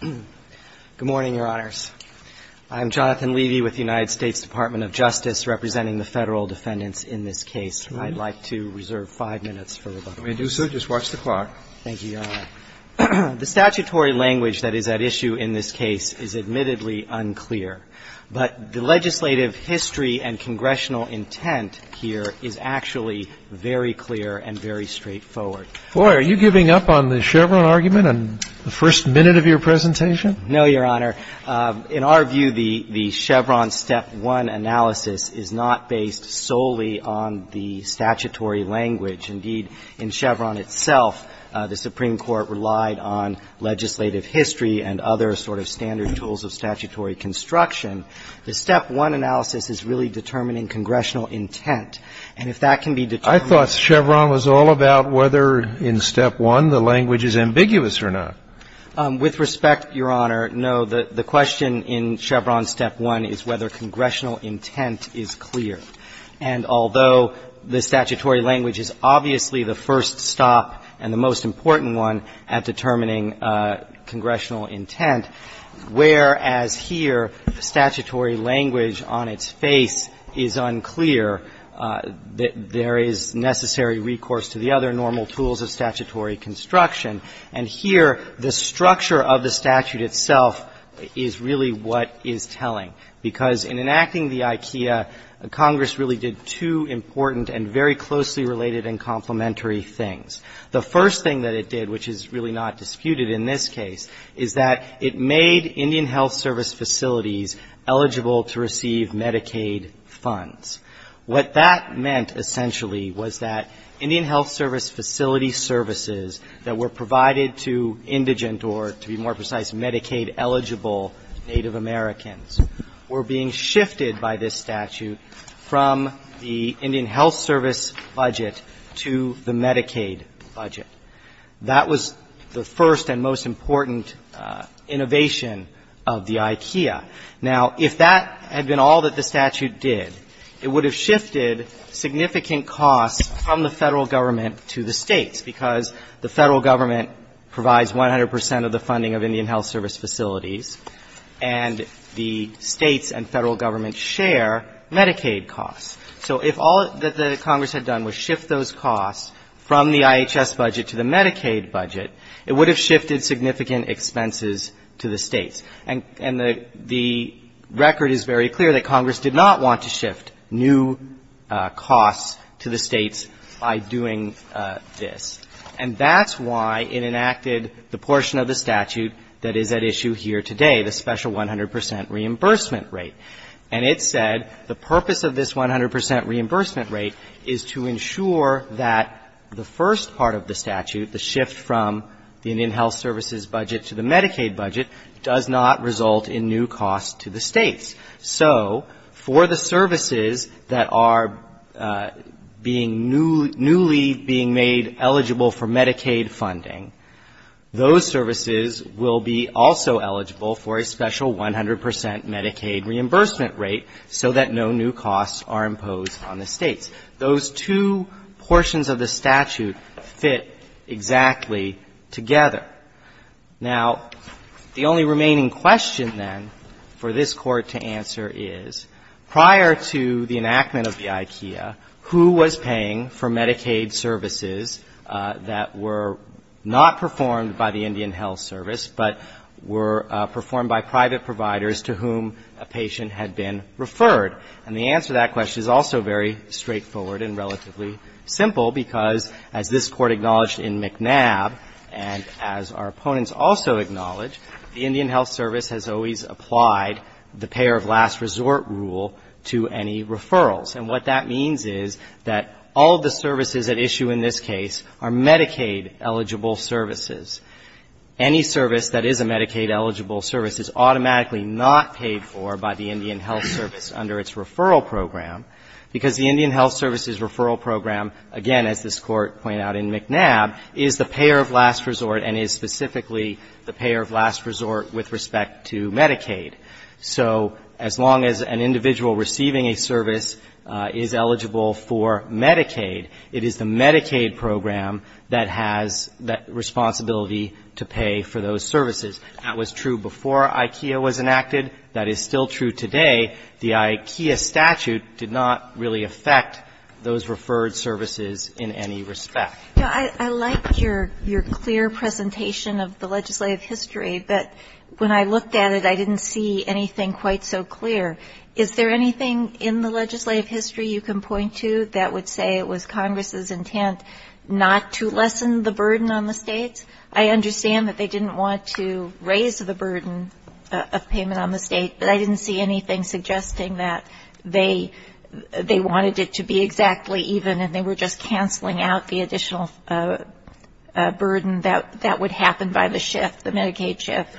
Good morning, Your Honors. I'm Jonathan Levy with the United States Department of Justice, representing the federal defendants in this case. I'd like to reserve five minutes for rebuttal. We do, sir. Just watch the clock. Thank you, Your Honor. The statutory language that is at issue in this case is admittedly unclear, but the legislative history and congressional intent here is actually very clear and very straightforward. Boy, are you giving up on the Chevron argument in the first minute of your presentation? No, Your Honor. In our view, the Chevron step one analysis is not based solely on the statutory language. Indeed, in Chevron itself, the Supreme Court relied on legislative history and other sort of standard tools of statutory construction. The step one analysis is really determining congressional intent. And if that can be determined by the legislative history and other sort of standard tools of statutory construction, the step one analysis is really determining congressional intent. Now, is it clear in step one the language is ambiguous or not? With respect, Your Honor, no. The question in Chevron step one is whether congressional intent is clear. And although the statutory language is obviously the first stop and the most important one at determining congressional intent, whereas here statutory language on its face is unclear, there is necessary recourse to the other normal tools of statutory construction. And here the structure of the statute itself is really what is telling, because in enacting the IKEA, Congress really did two important and very closely related and complementary things. The first thing that it did, which is really not disputed in this case, is that it made Indian Health Service facilities eligible to receive Medicaid funds. What that meant, essentially, was that Indian Health Service facility services that were provided to indigent or, to be more precise, Medicaid-eligible Native Americans were being shifted by this statute from the Indian Health Service budget to the Medicaid budget. That was the first and most important innovation of the IKEA. Now, if that had been all that the statute did, it would have shifted significant costs from the Federal Government to the States, because the Federal Government provides 100 percent of the funding of Indian Health Service facilities, and the States and Federal Government share Medicaid costs. So if all that Congress had done was shift those costs from the IHS budget to the Medicaid budget, it would have shifted significant expenses to the States. And the record is very clear that Congress did not want to shift new costs to the States by doing this. And that's why it enacted the portion of the statute that is at issue here today, the special 100 percent reimbursement rate. And it said the purpose of this 100 percent reimbursement rate is to ensure that the first part of the statute, the shift from the Indian Health Service's budget to the Medicaid budget, does not result in new costs to the States. So for the services that are being newly being made eligible for Medicaid funding, those services will be also eligible for a special 100 percent Medicaid reimbursement rate. So that no new costs are imposed on the States. Those two portions of the statute fit exactly together. Now, the only remaining question, then, for this Court to answer is, prior to the enactment of the IKEA, who was paying for Medicaid services that were not performed by the Indian Health Service, but were performed by private providers to whom a patient had been referred? And the answer to that question is also very straightforward and relatively simple, because as this Court acknowledged in McNab, and as our opponents also acknowledge, the Indian Health Service has always applied the payer of last resort rule to any referrals. And what that means is that all of the services at issue in this case are Medicaid-eligible services. Any service that is a Medicaid-eligible service is automatically not paid for by the Indian Health Service under its referral program, because the Indian Health Service's referral program, again, as this Court pointed out in McNab, is the payer of last resort and is specifically the payer of last resort with respect to Medicaid. So as long as an individual receiving a service is eligible for Medicaid, it is the Medicaid program that has that responsibility to pay for those services. That was true before IKEA was enacted. That is still true today. The IKEA statute did not really affect those referred services in any respect. I like your clear presentation of the legislative history, but when I looked at it, I didn't see anything quite so clear. Is there anything in the legislative history you can point to that would say it was Congress's intent not to lessen the burden on the states? I understand that they didn't want to raise the burden of payment on the state, but I didn't see anything suggesting that they wanted it to be exactly even and they were just canceling out the additional burden that would happen by the shift, the Medicaid shift.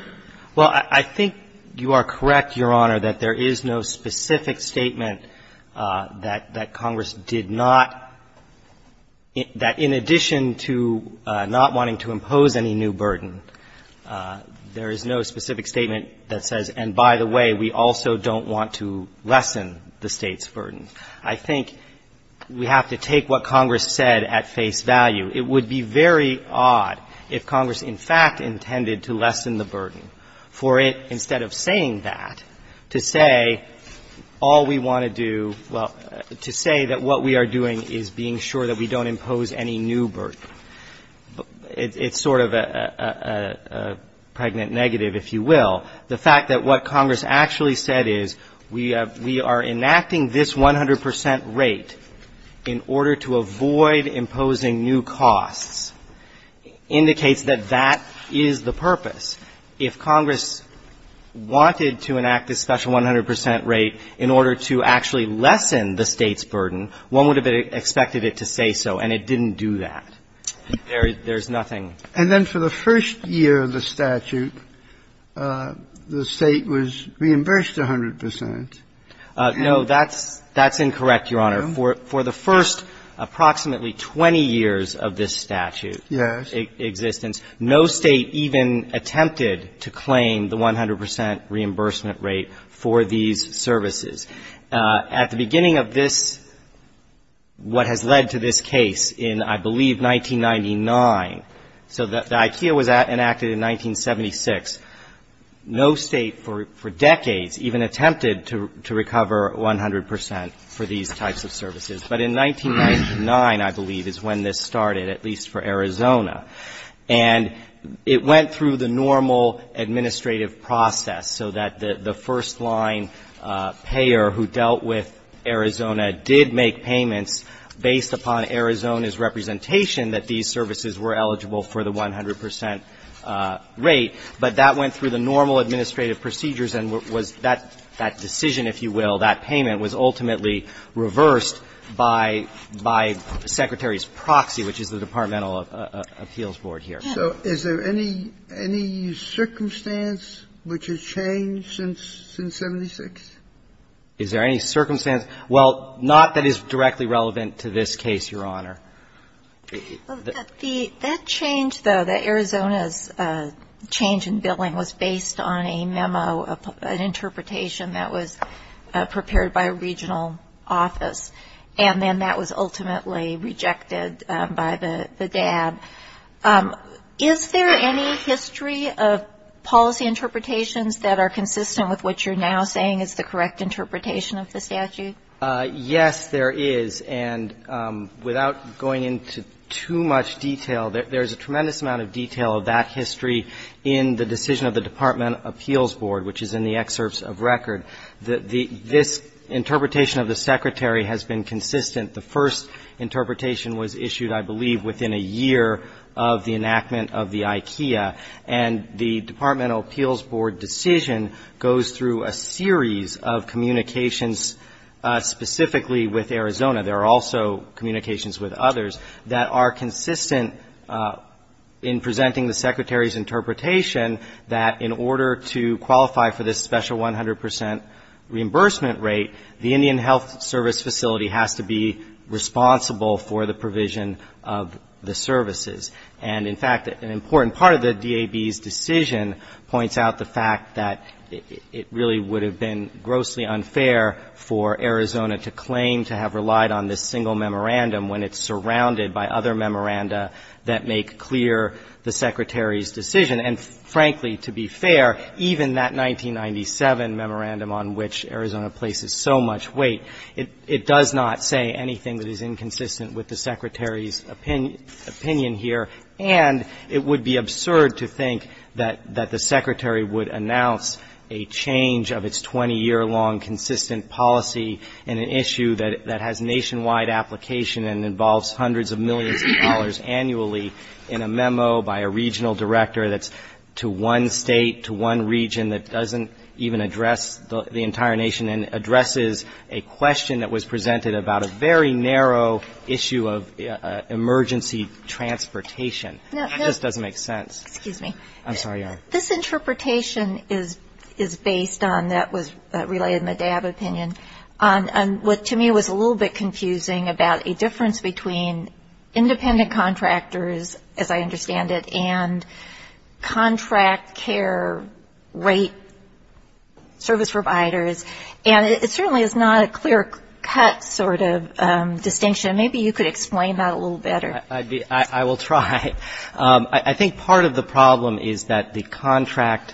Well, I think you are correct, Your Honor, that there is no specific statement that Congress did not, that in addition to not wanting to impose any new burden, there is no specific statement that says, and by the way, we also don't want to lessen the State's burden. I think we have to take what Congress said at face value. It would be very odd if Congress, in fact, intended to lessen the burden, for it, instead of saying that, to say all we want to do, well, to say that what we are doing is being sure that we don't impose any new burden. It's sort of a pregnant negative, if you will. The fact that what Congress actually said is, we are enacting this 100 percent rate in order to avoid imposing new costs indicates that that is the purpose. If Congress wanted to enact this special 100 percent rate in order to actually lessen the State's burden, one would have expected it to say so, and it didn't do that. There's nothing. And then for the first year of the statute, the State was reimbursed 100 percent. No, that's incorrect, Your Honor. For the first approximately 20 years of this statute's existence, no State even attempted to claim the 100 percent reimbursement rate for these services. At the beginning of this, what has led to this case in, I believe, 1999, so the IKEA was enacted in 1976, no State for decades even attempted to recover 100 percent for these types of services. But in 1999, I believe, is when this started, at least for Arizona. And it went through the normal administrative process so that the first line payer who dealt with Arizona did make payments based upon Arizona's representation that these services were eligible for the 100 percent rate. But that went through the normal administrative procedures, and what was that decision, if you will, that payment was ultimately reversed by the Secretary's proxy, which is the Departmental Appeals Board here. So is there any circumstance which has changed since 1976? Is there any circumstance? Well, not that is directly relevant to this case, Your Honor. That change, though, that Arizona's change in billing was based on a memo, an interpretation that was prepared by a regional office, and then that was ultimately rejected by the DAB. Is there any history of policy interpretations that are consistent with what you're now saying is the correct interpretation of the statute? Yes, there is. And without going into too much detail, there's a tremendous amount of detail of that history in the decision of the Department of Appeals Board, which is in the excerpts of record. This interpretation of the Secretary has been consistent. The first interpretation was issued, I believe, within a year of the enactment of the IKEA, and the Departmental Appeals Board decision goes through a series of communications specifically with Arizona. There are also communications with others that are consistent in presenting the Secretary's interpretation that in order to qualify for this special 100 percent reimbursement rate, the Indian Health Service facility has to be responsible for the provision of the services. And, in fact, an important part of the DAB's decision points out the fact that it really would have been grossly unfair for Arizona to claim to have relied on this single memorandum when it's surrounded by other memoranda that make clear the Secretary's decision. And, frankly, to be fair, even that 1997 memorandum on which Arizona places so much weight, it does not say anything that is inconsistent with the Secretary's opinion here, and it would be absurd to think that the Secretary would announce a change of its 20-year-long consistent policy in an issue that has nationwide application and involves hundreds of millions of dollars annually in a memo by a regional director that's to one State, to one region that doesn't even address the entire nation and addresses a question that was presented about a very narrow issue of emergency transportation. It just doesn't make sense. I'm sorry, Yara. This interpretation is based on, that was related in the DAB opinion, on what to me was a little bit confusing about a difference between independent contractors, as I said, and service providers, and it certainly is not a clear-cut sort of distinction. Maybe you could explain that a little better. I will try. I think part of the problem is that the contract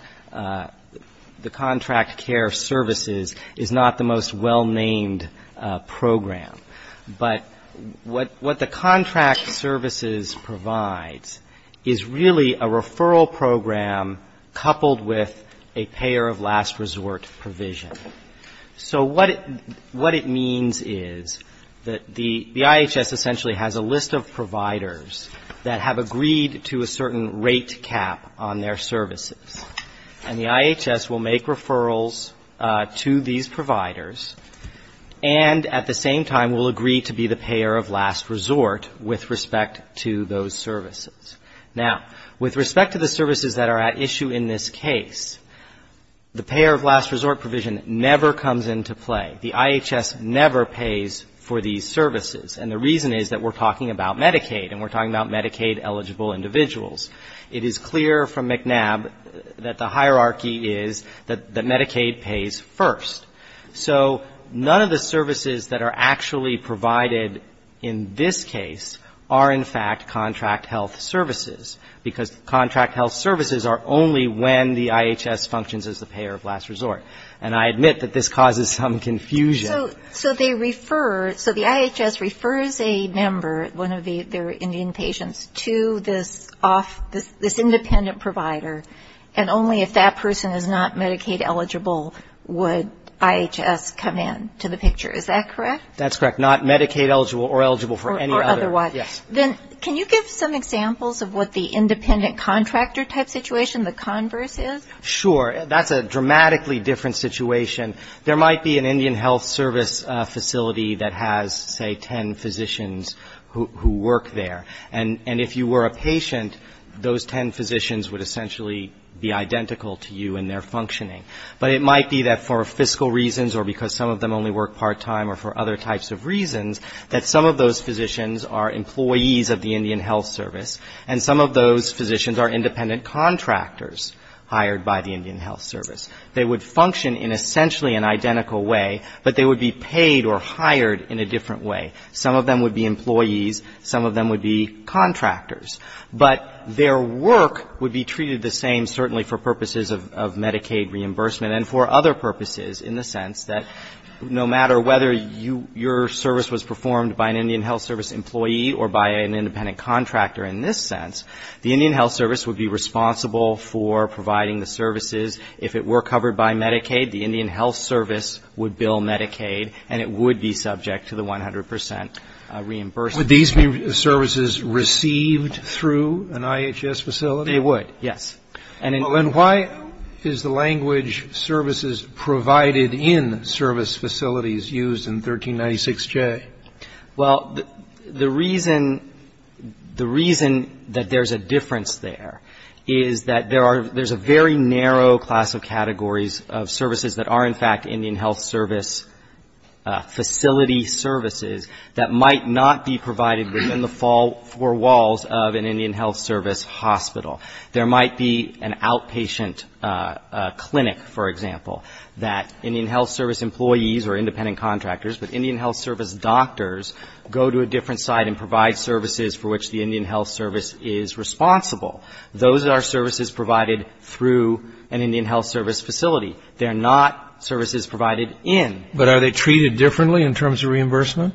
care services is not the most well-named program. But what the contract services provides is really a referral program coupled with a payer-of-last-resort provision. So what it means is that the IHS essentially has a list of providers that have agreed to a certain rate cap on their services. And the IHS will make referrals to these providers and at the same time will agree to be the payer-of-last-resort with respect to those services. Now, with respect to the services that are at issue in this case, the payer-of-last-resort provision never comes into play. The IHS never pays for these services. And the reason is that we're talking about Medicaid and we're talking about Medicaid eligible individuals. It is clear from McNab that the hierarchy is that Medicaid pays first. So none of the services that are actually provided in this case are, in fact, contract health services, because contract health services are only when the IHS functions as the payer-of-last-resort. And I admit that this causes some confusion. So they refer, so the IHS refers a member, one of their Indian patients, to this independent provider and only if that person is not Medicaid eligible would IHS come in to the picture, is that correct? That's correct, not Medicaid eligible or eligible for any other. Or otherwise. Yes. Then can you give some examples of what the independent contractor type situation, the converse is? Sure. That's a dramatically different situation. There might be an Indian health service facility that has, say, ten physicians who work there. And if you were a patient, those ten physicians would essentially be identical to you in their functioning. But it might be that for fiscal reasons or because some of them only work part-time or for other types of reasons, that some of those physicians are employees of the Indian health service. And some of those physicians are independent contractors hired by the Indian health service. They would function in essentially an identical way, but they would be paid or hired in a different way. Some of them would be employees. Some of them would be contractors. But their work would be treated the same, certainly for purposes of Medicaid reimbursement and for other purposes, in the sense that no matter whether your service was performed by an Indian health service employee or by an independent contractor in this sense, the Indian health service would be responsible for providing the services. If it were covered by Medicaid, the Indian health service would bill Medicaid, and it would be subject to the 100 percent reimbursement. Would these be services received by the Indian health service? Would these be services received through an IHS facility? They would, yes. And why is the language services provided in service facilities used in 1396J? Well, the reason that there's a difference there is that there's a very narrow class of categories of services that are, in fact, Indian health service facility services of an Indian health service hospital. There might be an outpatient clinic, for example, that Indian health service employees or independent contractors, but Indian health service doctors go to a different side and provide services for which the Indian health service is responsible. Those are services provided through an Indian health service facility. They're not services provided in. But are they treated differently in terms of reimbursement?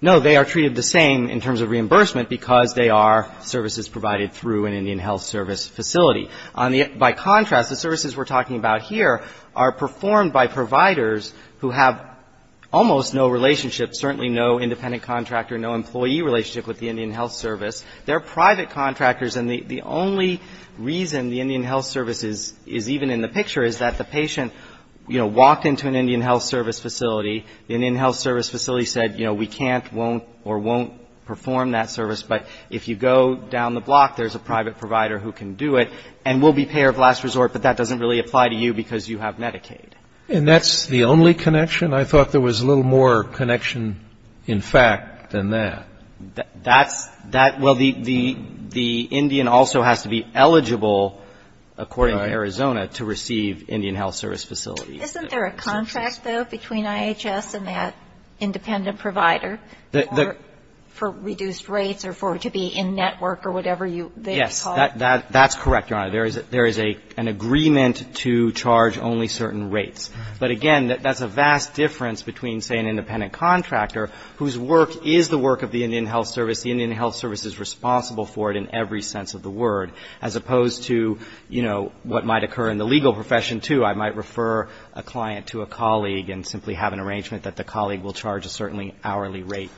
No. They are treated the same in terms of reimbursement because they are services provided through an Indian health service facility. By contrast, the services we're talking about here are performed by providers who have almost no relationship, certainly no independent contractor, no employee relationship with the Indian health service. They're private contractors. And the only reason the Indian health service is even in the picture is that the patient, you know, walked into an Indian health service facility. The Indian health service provider will or won't perform that service. But if you go down the block, there's a private provider who can do it and will be payer of last resort, but that doesn't really apply to you because you have Medicaid. And that's the only connection? I thought there was a little more connection, in fact, than that. That's, well, the Indian also has to be eligible, according to Arizona, to receive Indian health service facilities. Isn't there a contract, though, between IHS and that independent provider? For reduced rates or for it to be in network or whatever you call it? Yes. That's correct, Your Honor. There is an agreement to charge only certain rates. But, again, that's a vast difference between, say, an independent contractor whose work is the work of the Indian health service. The Indian health service is responsible for it in every sense of the word, as opposed to, you know, what might occur in the legal profession, too. I might refer a client to a colleague and simply have an arrangement that the colleague will charge a certain hourly rate.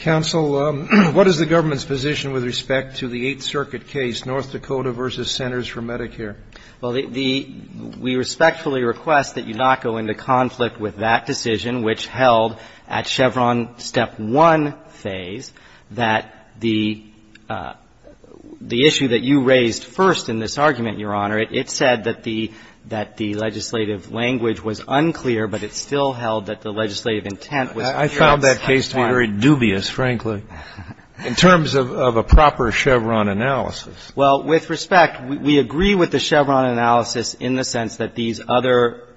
Counsel, what is the government's position with respect to the Eighth Circuit case, North Dakota v. Centers for Medicare? Well, we respectfully request that you not go into conflict with that decision, which held at Chevron step one phase that the issue that you raised first in this argument, Your Honor, it said that the legislative language was unclear, but it still held that the legislative intent was unclear. I found that case to be very dubious, frankly, in terms of a proper Chevron analysis. Well, with respect, we agree with the Chevron analysis in the sense that these other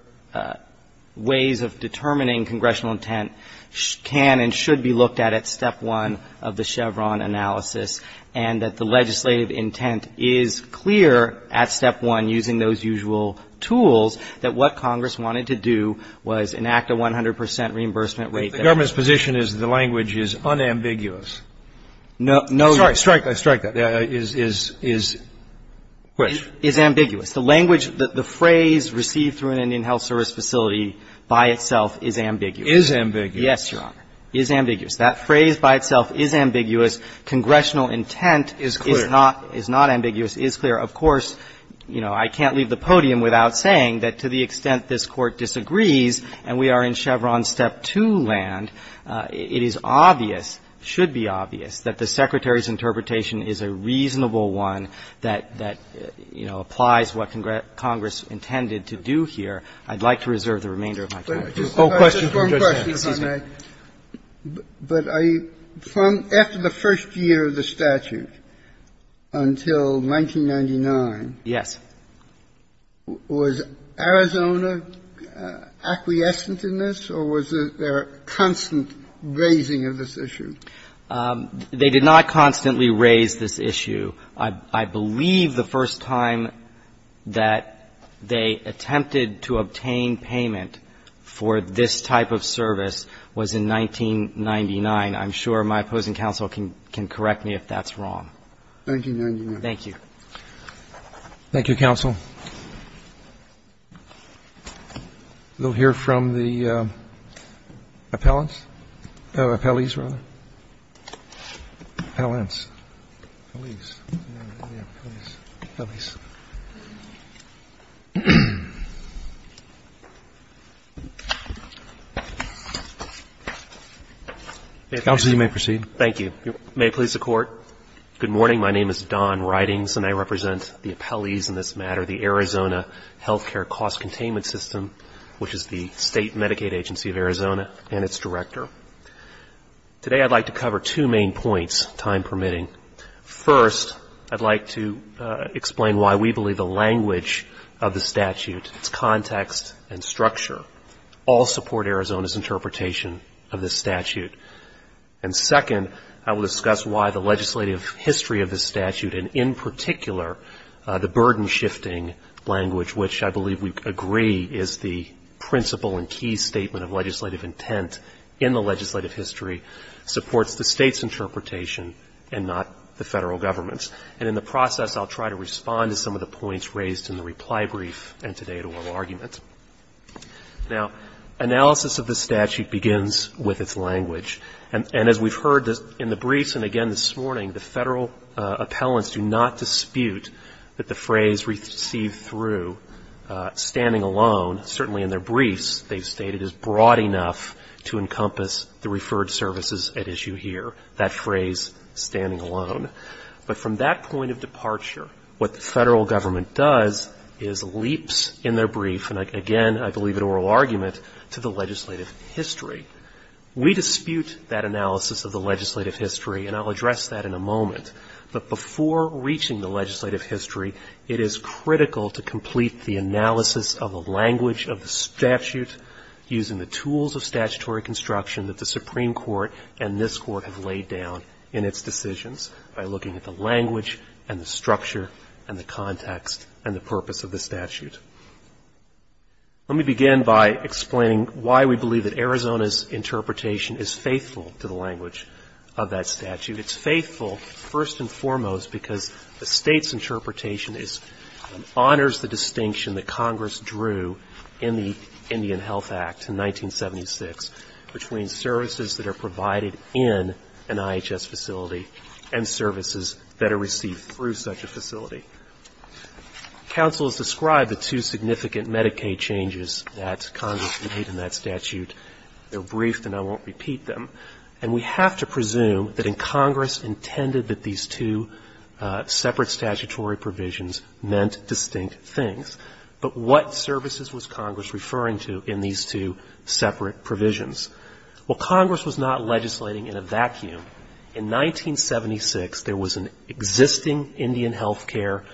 ways of determining congressional intent can and should be looked at at step one of the Chevron analysis, and that the legislative intent is clear at step one using those usual tools, that what Congress wanted to do was enact a 100 percent reimbursement rate. The government's position is the language is unambiguous. No. Sorry, strike that. Is which? Is ambiguous. The language, the phrase received through an Indian health service facility by itself is ambiguous. Is ambiguous. Yes, Your Honor. Is ambiguous. That phrase by itself is ambiguous. Congressional intent is not ambiguous. Is clear. Is clear. Of course, you know, I can't leave the podium without saying that to the extent this to land, it is obvious, should be obvious, that the Secretary's interpretation is a reasonable one that, you know, applies what Congress intended to do here. I'd like to reserve the remainder of my time. Oh, question. Just one question, if I may. Excuse me. But are you from after the first year of the statute until 1999. Yes. Was Arizona acquiescent in this or was there a constant raising of this issue? They did not constantly raise this issue. I believe the first time that they attempted to obtain payment for this type of service was in 1999. I'm sure my opposing counsel can correct me if that's wrong. 1999. Thank you. Thank you, counsel. We'll hear from the appellants. Oh, appellees, rather. Appellees. Appellees. Appellees. Counsel, you may proceed. Thank you. May it please the Court. Good morning. Good morning. My name is Don Ridings, and I represent the appellees in this matter, the Arizona Healthcare Cost Containment System, which is the state Medicaid agency of Arizona and its director. Today I'd like to cover two main points, time permitting. First, I'd like to explain why we believe the language of the statute, its context, and structure, all support Arizona's interpretation of this statute. And second, I will discuss why the legislative history of this statute, and in particular, the burden-shifting language, which I believe we agree is the principle and key statement of legislative intent in the legislative history, supports the state's interpretation and not the Federal Government's. And in the process, I'll try to respond to some of the points raised in the reply brief and today at oral argument. Now, analysis of the statute begins with its language. And as we've heard in the briefs and again this morning, the Federal appellants do not dispute that the phrase received through, standing alone, certainly in their briefs, they've stated is broad enough to encompass the referred services at issue here, that phrase, standing alone. But from that point of departure, what the Federal Government does is leaps in their brief, and again, I believe at oral argument, to the legislative history. We dispute that analysis of the legislative history, and I'll address that in a moment. But before reaching the legislative history, it is critical to complete the analysis of the language of the statute using the tools of statutory construction that the Supreme Court and this Court have laid down in its decisions, by looking at the language and the structure and the context and the purpose of the statute. Let me begin by explaining why we believe that Arizona's interpretation is faithful to the language of that statute. It's faithful, first and foremost, because the State's interpretation honors the distinction that Congress drew in the Indian Health Act in 1976, between services that are provided in an IHS facility and services that are received through such a facility. Counsel has described the two significant Medicaid changes that Congress made in that statute. They're briefed, and I won't repeat them. And we have to presume that in Congress intended that these two separate statutory provisions meant distinct things. But what services was Congress referring to in these two separate provisions? Well, Congress was not legislating in a vacuum. In 1976, there was an existing Indian health care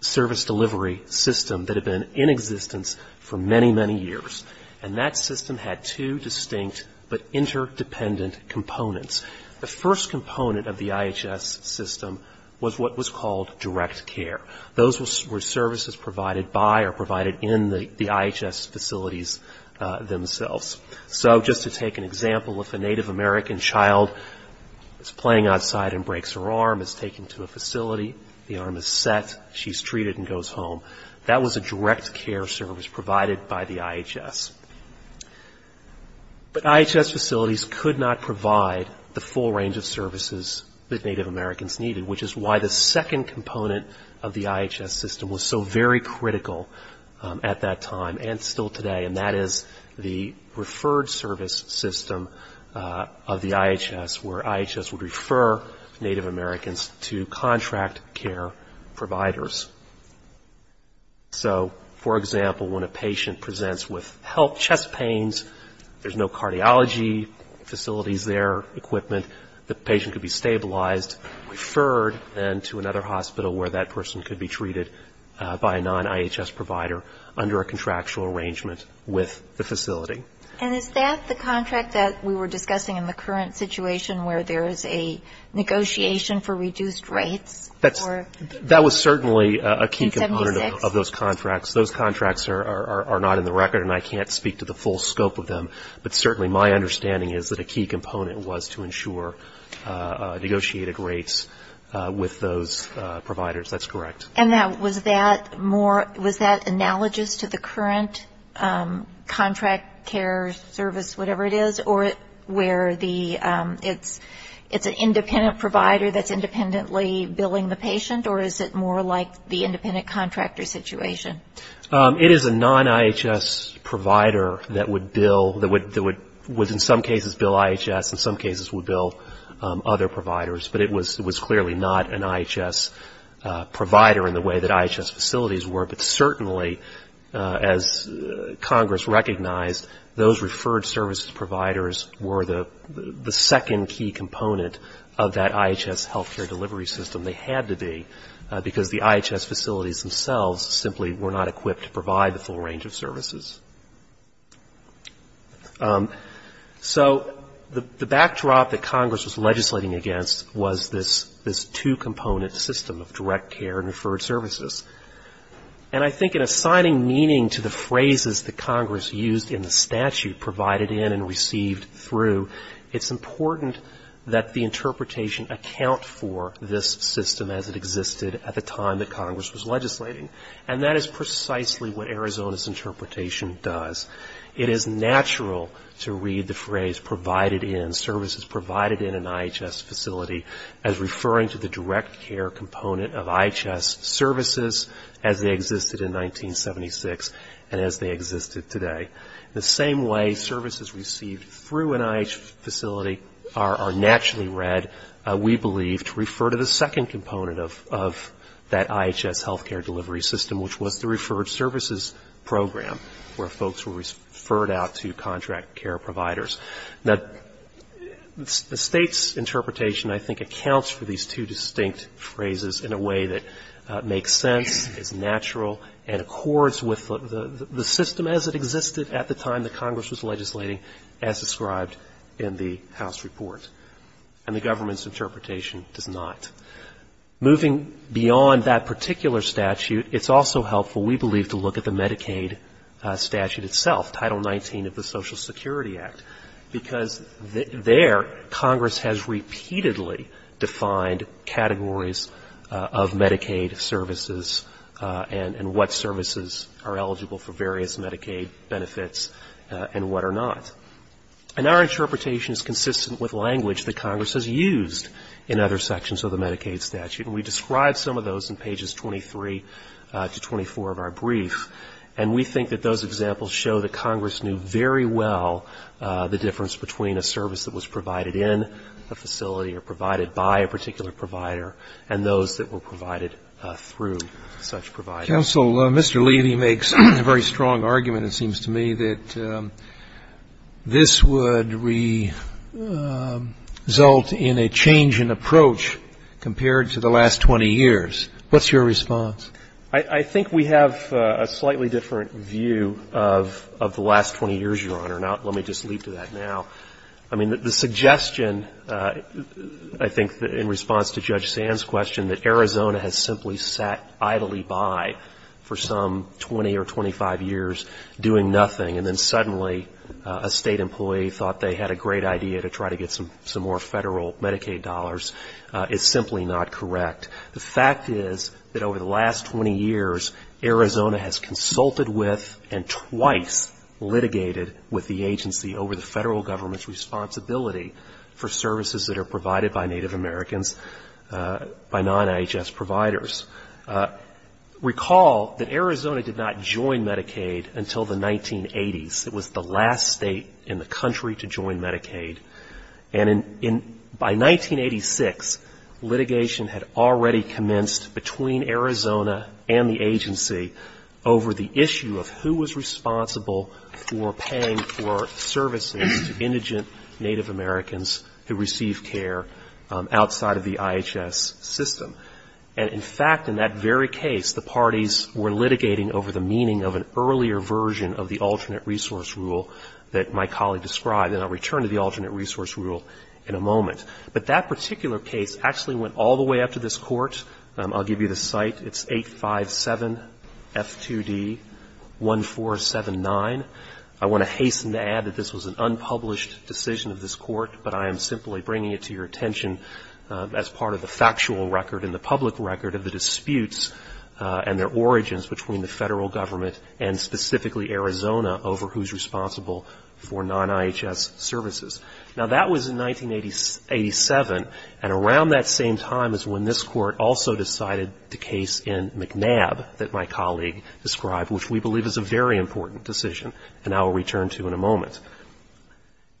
service delivery system that had been in existence for many, many years. And that system had two distinct but interdependent components. The first component of the IHS system was what was called direct care. Those were services provided by or provided in the IHS facilities themselves. So just to take an example, if a Native American child is playing outside and breaks her arm, is taken to a facility, the arm is set, she's treated and goes home, that was a direct care service provided by the IHS. But IHS facilities could not provide the full range of services that Native Americans needed, which is why the second component of the IHS system was so very critical at that time and still today, and that is the referred service system of the IHS, where IHS would refer Native Americans to contract care providers. So for example, when a patient presents with health chest pains, there's no cardiology facilities there, equipment, the patient could be stabilized, referred then to another hospital where that person could be treated by a non-IHS provider under a contractual arrangement with the facility. And is that the contract that we were discussing in the current situation where there is a negotiation for reduced rates? That was certainly a key component of those contracts. Those contracts are not in the record, and I can't speak to the full scope of them. But certainly my understanding is that a key component was to ensure negotiated rates with those providers, that's correct. And was that analogous to the current contract care service, whatever it is, or where it's an independent provider that's independently billing the patient, or is it more like the independent contractor situation? It is a non-IHS provider that would bill, that would in some cases bill IHS, in some cases would bill other providers. But it was clearly not an IHS provider in the way that IHS facilities were, but certainly as Congress recognized, those referred services providers were the second key component of that IHS healthcare delivery system. They had to be, because the IHS facilities themselves simply were not equipped to provide the full range of services. So the backdrop that Congress was legislating against was this two-component system of direct care and referred services. And I think in assigning meaning to the phrases that Congress used in the statute provided in and received through, it's important that the interpretation account for this system as it existed at the time that Congress was legislating. And that is precisely what Arizona's interpretation does. It is natural to read the phrase provided in, services provided in an IHS facility as referring to the direct care component of IHS services as they existed in 1976 and as they existed today. The same way services received through an IHS facility are naturally read, we believe, to refer to the second component of that IHS healthcare delivery system, which was the referred services program, where folks were referred out to contract care providers. Now, the State's interpretation, I think, accounts for these two distinct phrases in a way that makes sense, is natural, and accords with the system as it existed at the time that Congress was legislating as described in the House report. And the government's interpretation does not. Moving beyond that particular statute, it's also helpful, we believe, to look at the Medicaid statute itself, Title XIX of the Social Security Act, because there Congress has repeatedly defined categories of Medicaid services and what services are eligible for various Medicaid benefits and what are not. And our interpretation is consistent with language that Congress has used in other sections of the Medicaid statute, and we describe some of those in pages 23 to 24 of our brief. And we think that those examples show that Congress knew very well the difference between a service that was provided in a facility or provided by a particular provider and those that were provided through such providers. Roberts. Counsel, Mr. Levy makes a very strong argument, it seems to me, that this would result in a change in approach compared to the last 20 years. What's your response? I think we have a slightly different view of the last 20 years, Your Honor. Let me just leap to that now. I mean, the suggestion, I think, in response to Judge Sand's question, that Arizona has simply sat idly by for some 20 or 25 years doing nothing, and then suddenly a State employee thought they had a great idea to try to get some more Federal Medicaid dollars is simply not correct. The fact is that over the last 20 years, Arizona has consulted with and twice litigated with the agency over the Federal Government's responsibility for services that are provided by Native Americans, by non-IHS providers. Recall that Arizona did not join Medicaid until the 1980s. It was the last State in the country to join Medicaid. And by 1986, litigation had already commenced between Arizona and the agency over the issue of who was responsible for paying for services to indigent Native Americans who received care outside of the IHS system. And in fact, in that very case, the parties were litigating over the meaning of an earlier version of the alternate resource rule that my colleague described, and I'll return to the alternate resource rule in a moment. But that particular case actually went all the way up to this Court. I'll give you the site. It's 857 F2D 1479. I want to hasten to add that this was an unpublished decision of this Court, but I am simply bringing it to your attention as part of the factual record and the public record of the disputes and their origins between the Federal Government and specifically Arizona over who's responsible for non-IHS services. Now, that was in 1987, and around that same time is when this Court also decided the case in McNab that my colleague described, which we believe is a very important decision and I will return to in a moment.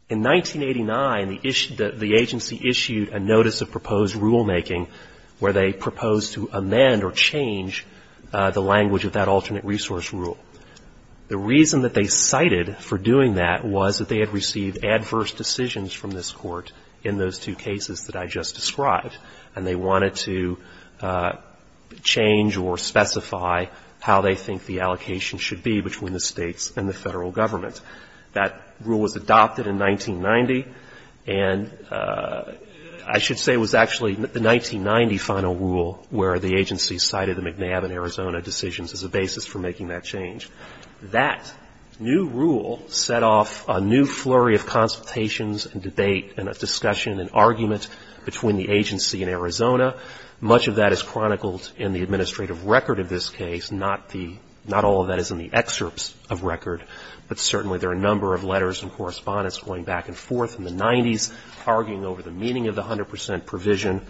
In 1989, the agency issued a notice of proposed rulemaking where they proposed to amend or change the language of that alternate resource rule. The reason that they cited for doing that was that they had received adverse decisions from this Court in those two cases that I just described, and they wanted to change or specify how they think the allocation should be between the States and the Federal Government. That rule was adopted in 1990, and I should say it was actually the 1990 final rule where the agency cited the McNab and Arizona decisions as a basis for making that change. That new rule set off a new flurry of consultations and debate and discussion and argument between the agency and Arizona. Much of that is chronicled in the administrative record of this case. Not the — not all of that is in the excerpts of record, but certainly there are a number of letters and correspondence going back and forth in the 90s arguing over the meaning of the 100 percent provision.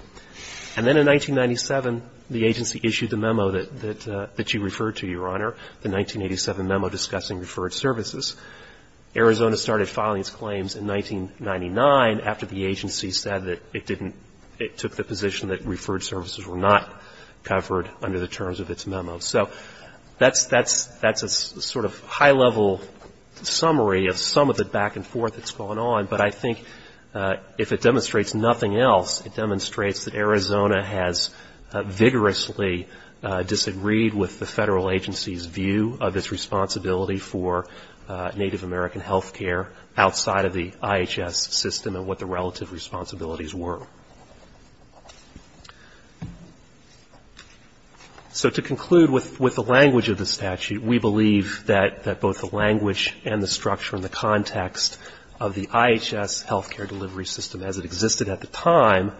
And then in 1997, the agency issued the memo that you referred to, Your Honor, the 1987 memo discussing referred services. Arizona started filing its claims in 1999 after the agency said that it didn't — it took the position that referred services were not covered under the terms of its memo. So that's a sort of high-level summary of some of the back and forth that's going on, but I think if it demonstrates nothing else, it demonstrates that Arizona has vigorously disagreed with the federal agency's view of its responsibility for Native American health care outside of the IHS system and what the relative responsibilities were. So to conclude with the language of the statute, we believe that both the language and the context of the IHS health care delivery system as it existed at the time,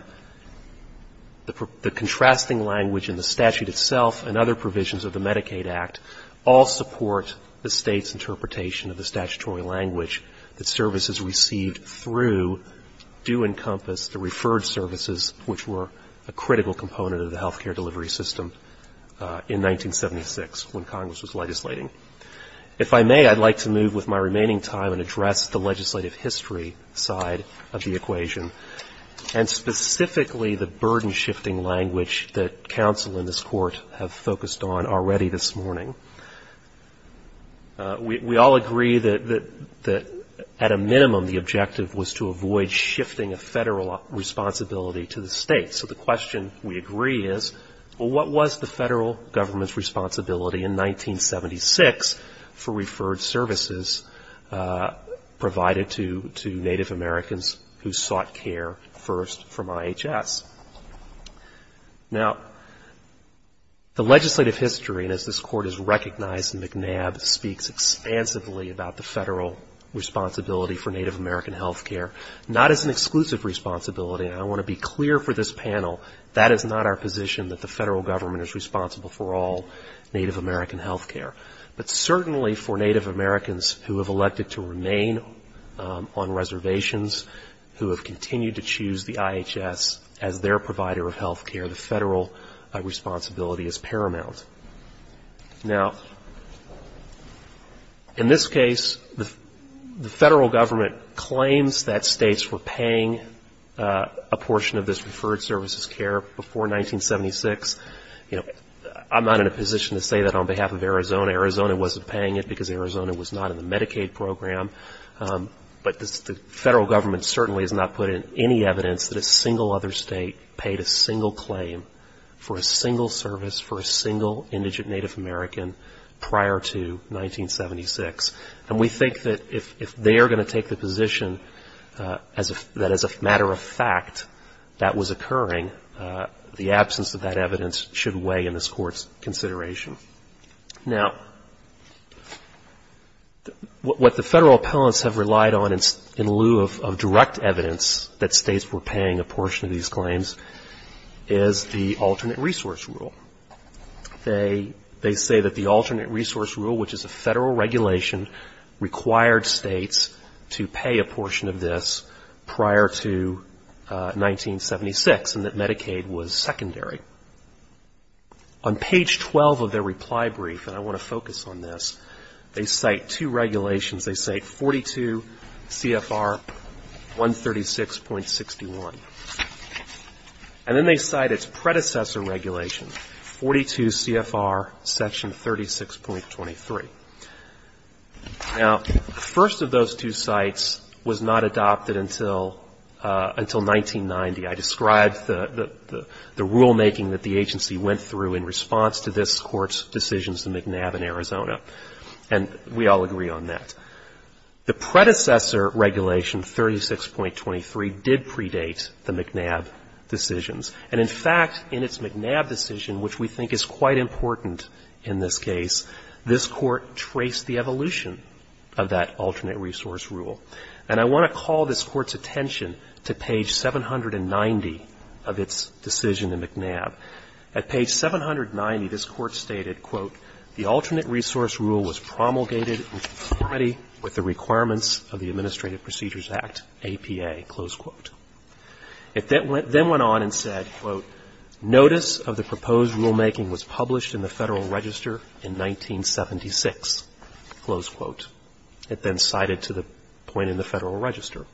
the contrasting language in the statute itself and other provisions of the Medicaid Act all support the State's interpretation of the statutory language that services received through do encompass the referred services, which were a critical component of the health care delivery system in 1976 when Congress was legislating. If I may, I'd like to move with my remaining time and address the legislative history side of the equation, and specifically the burden-shifting language that counsel in this Court have focused on already this morning. We all agree that at a minimum the objective was to avoid shifting a federal responsibility to the State. So the question we agree is, well, what was the federal government's responsibility in 1976 for referred services provided to Native Americans who sought care first from IHS? Now the legislative history, and as this Court has recognized, McNabb speaks expansively about the federal responsibility for Native American health care, not as an exclusive responsibility, and I want to be clear for this panel, that is not our position that the federal government is responsible for all Native American health care. But certainly for Native Americans who have elected to remain on reservations, who have continued to choose the IHS as their provider of health care, the federal responsibility is paramount. Now in this case, the federal government claims that States were paying a portion of this referred services care before 1976. You know, I'm not in a position to say that on behalf of Arizona. Arizona wasn't paying it because Arizona was not in the Medicaid program. But the federal government certainly has not put in any evidence that a single other State paid a single claim for a single service for a single indigent Native American prior to 1976. And we think that if they are going to take the position that as a matter of fact that was occurring, the absence of that evidence should weigh in this Court's consideration. Now, what the federal appellants have relied on in lieu of direct evidence that States were paying a portion of these claims is the alternate resource rule. They say that the alternate resource rule, which is a federal regulation, required States to pay a portion of this prior to 1976 and that Medicaid was secondary. On page 12 of their reply brief, and I want to focus on this, they cite two regulations. They cite 42 CFR 136.61. And then they cite its predecessor regulation, 42 CFR section 36.23. Now, the first of those two cites was not adopted until 1990. I described the rulemaking that the agency went through in response to this Court's decisions to McNabb in Arizona. And we all agree on that. The predecessor regulation, 36.23, did predate the McNabb decisions. And in fact, in its McNabb decision, which we think is quite important in this case, this Court traced the evolution of that alternate resource rule. And I want to call this Court's attention to page 790 of its decision in McNabb. At page 790, this Court stated, quote, The alternate resource rule was promulgated in conformity with the requirements of the Administrative Procedures Act, APA, close quote. It then went on and said, quote, Notice of the proposed rulemaking was published in the Federal Register in 1976. Close quote. It then cited to the point in the Federal Register.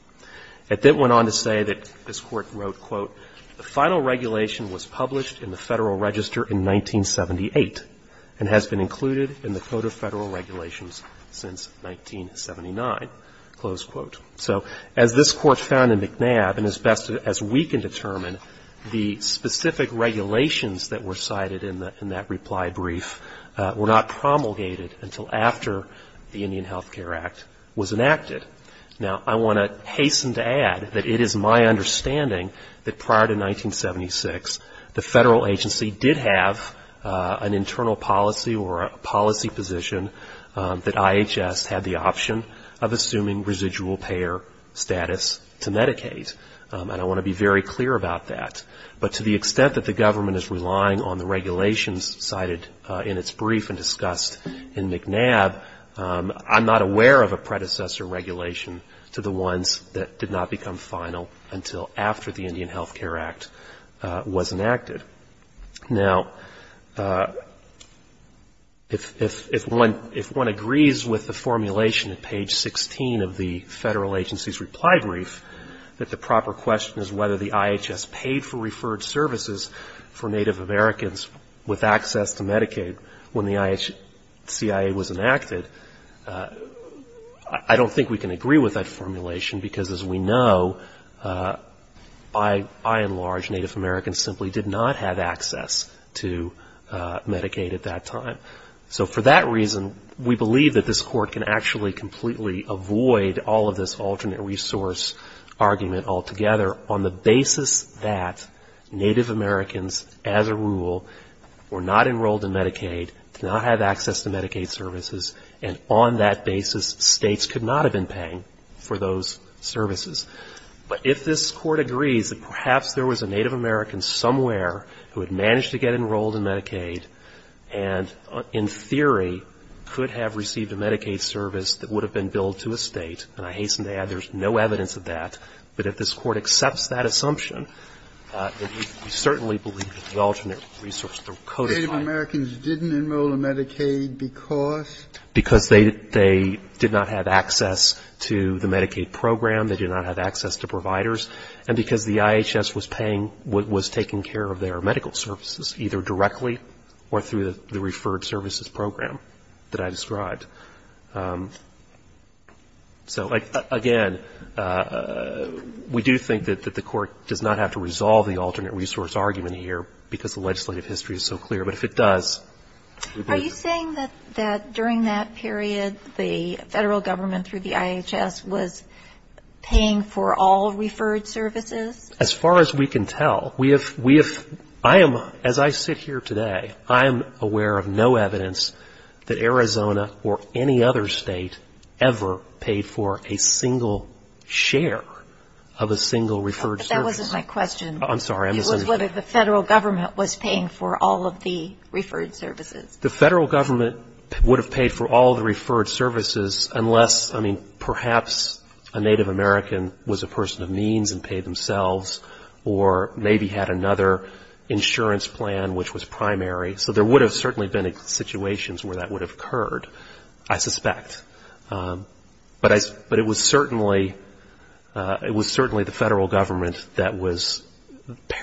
It then went on to say that this Court wrote, quote, The final regulation was published in the Federal Register in 1978 and has been included in the Code of Federal Regulations since 1979. Close quote. So as this Court found in McNabb, and as best as we can determine, the specific regulations that were cited in that reply brief were not promulgated until after the Federal Indian Health Care Act was enacted. Now, I want to hasten to add that it is my understanding that prior to 1976, the Federal agency did have an internal policy or a policy position that IHS had the option of assuming residual payer status to Medicaid. And I want to be very clear about that. But to the extent that the I'm not aware of a predecessor regulation to the ones that did not become final until after the Indian Health Care Act was enacted. Now, if one agrees with the formulation at page 16 of the Federal agency's reply brief, that the proper question is whether the IHS paid for referred services for Native Americans with access to Medicaid when the CIA was enacted, I don't think we can agree with that formulation, because as we know, by and large, Native Americans simply did not have access to Medicaid at that time. So for that reason, we believe that this Court can actually completely avoid all of this alternate resource argument altogether on the basis that states could not have been paying for those services. But if this Court agrees that perhaps there was a Native American somewhere who had managed to get enrolled in Medicaid and, in theory, could have received a Medicaid service that would have been billed to a state, and I hasten to add there's no evidence of that, but if this Court accepts that assumption, then we certainly believe that the alternate resource argument is justified. Sotomayor, Native Americans didn't enroll in Medicaid because? Because they did not have access to the Medicaid program, they did not have access to providers, and because the IHS was paying, was taking care of their medical services, either directly or through the referred services program that I described. So, again, we do think that the Court does not have to resolve the alternate resource argument here, because the legislative history is so clear. But if it does... Are you saying that during that period, the federal government through the IHS was paying for all referred services? As far as we can tell. We have, I am, as I sit here today, I am aware of no evidence that Arizona or any other state ever paid for a single share of a single referred service. That wasn't my question. I'm sorry. It was whether the federal government was paying for all of the referred services. The federal government would have paid for all the referred services unless, I mean, perhaps a Native American was a person of means and paid themselves, or maybe had another insurance plan which was primary. So there would have certainly been situations where that would have occurred, I suspect. But it was certainly, it was certainly the federal government that was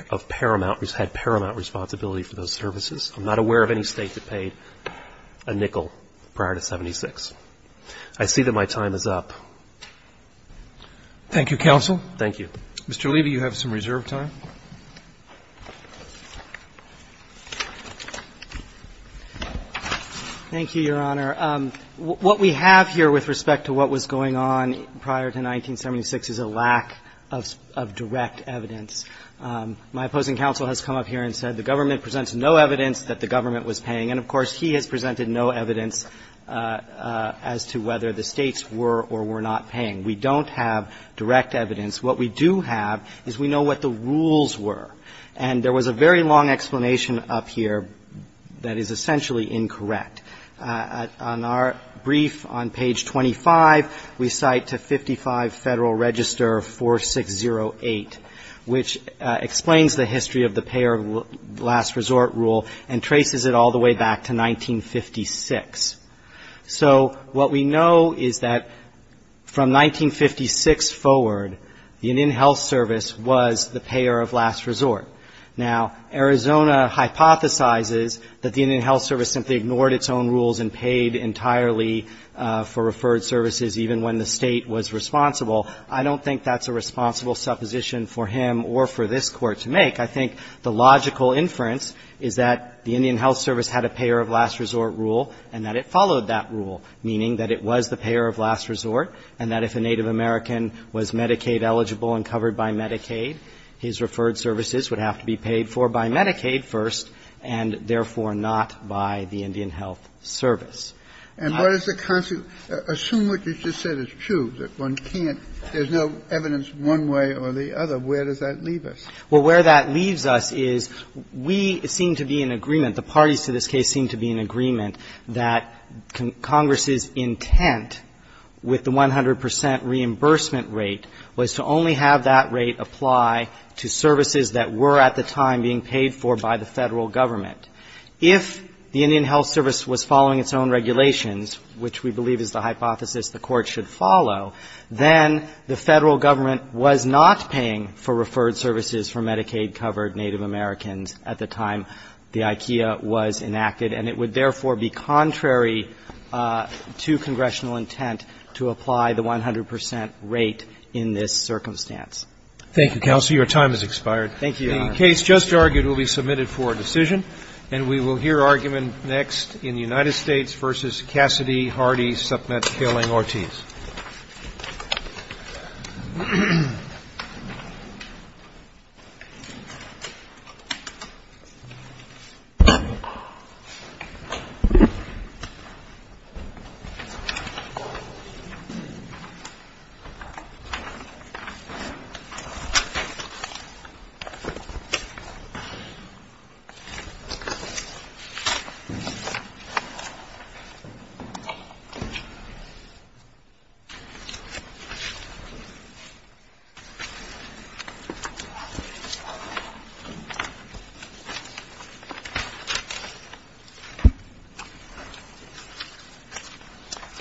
of paramount, had paramount responsibility for those services. I'm not aware of any state that paid a nickel prior to 76. I see that my time is up. Thank you, counsel. Thank you. Mr. Levy, you have some reserve time. Thank you, Your Honor. What we have here with respect to what was going on prior to 1976 is a lack of direct evidence. My opposing counsel has come up here and said the government presents no evidence that the government was paying. And, of course, he has presented no evidence as to whether the states were or were not paying. We don't have direct evidence. What we do have is we know what the rules were. And there was a very long explanation up here that is essentially incorrect. On our brief on page 25, we cite to 55 Federal Register 4608, which explains the history of the payer last resort rule and traces it all the way back to 1956. So what we know is that from 1956 forward, the Indian Health Service was the payer of last resort. Now, Arizona hypothesizes that the Indian Health Service simply ignored its own rules and paid entirely for referred services even when the state was responsible. I don't think that's a responsible supposition for him or for this Court to make. I think the logical inference is that the Indian Health Service had a payer of last resort rule and that it followed that rule, meaning that it was the payer of last resort and that if a Native American was Medicaid-eligible and covered by Medicaid, his referred services would have to be paid for by Medicaid first and, therefore, not by the Indian Health Service. And what is the consequence? Assume what you just said is true, that one can't – there's no evidence one way or the other. Where does that leave us? Well, where that leaves us is we seem to be in agreement, the parties to this case seem to be in agreement, that Congress's intent with the 100 percent reimbursement rate was to only have that rate apply to services that were at the time being paid for by the Federal Government. If the Indian Health Service was following its own regulations, which we believe is the hypothesis the Court should follow, then the Federal Government was not paying for referred services for Medicaid-covered Native Americans at the time the IKEA was enacted, and it would, therefore, be contrary to congressional intent to apply the 100 percent rate in this circumstance. Thank you, counsel. Your time has expired. Thank you, Your Honor. The case just argued will be submitted for a decision, and we will hear argument next in the United States v. Cassidy, Hardy, Supmet, Kaling, Ortiz. Thank you, Your Honor.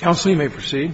Counsel, you may proceed.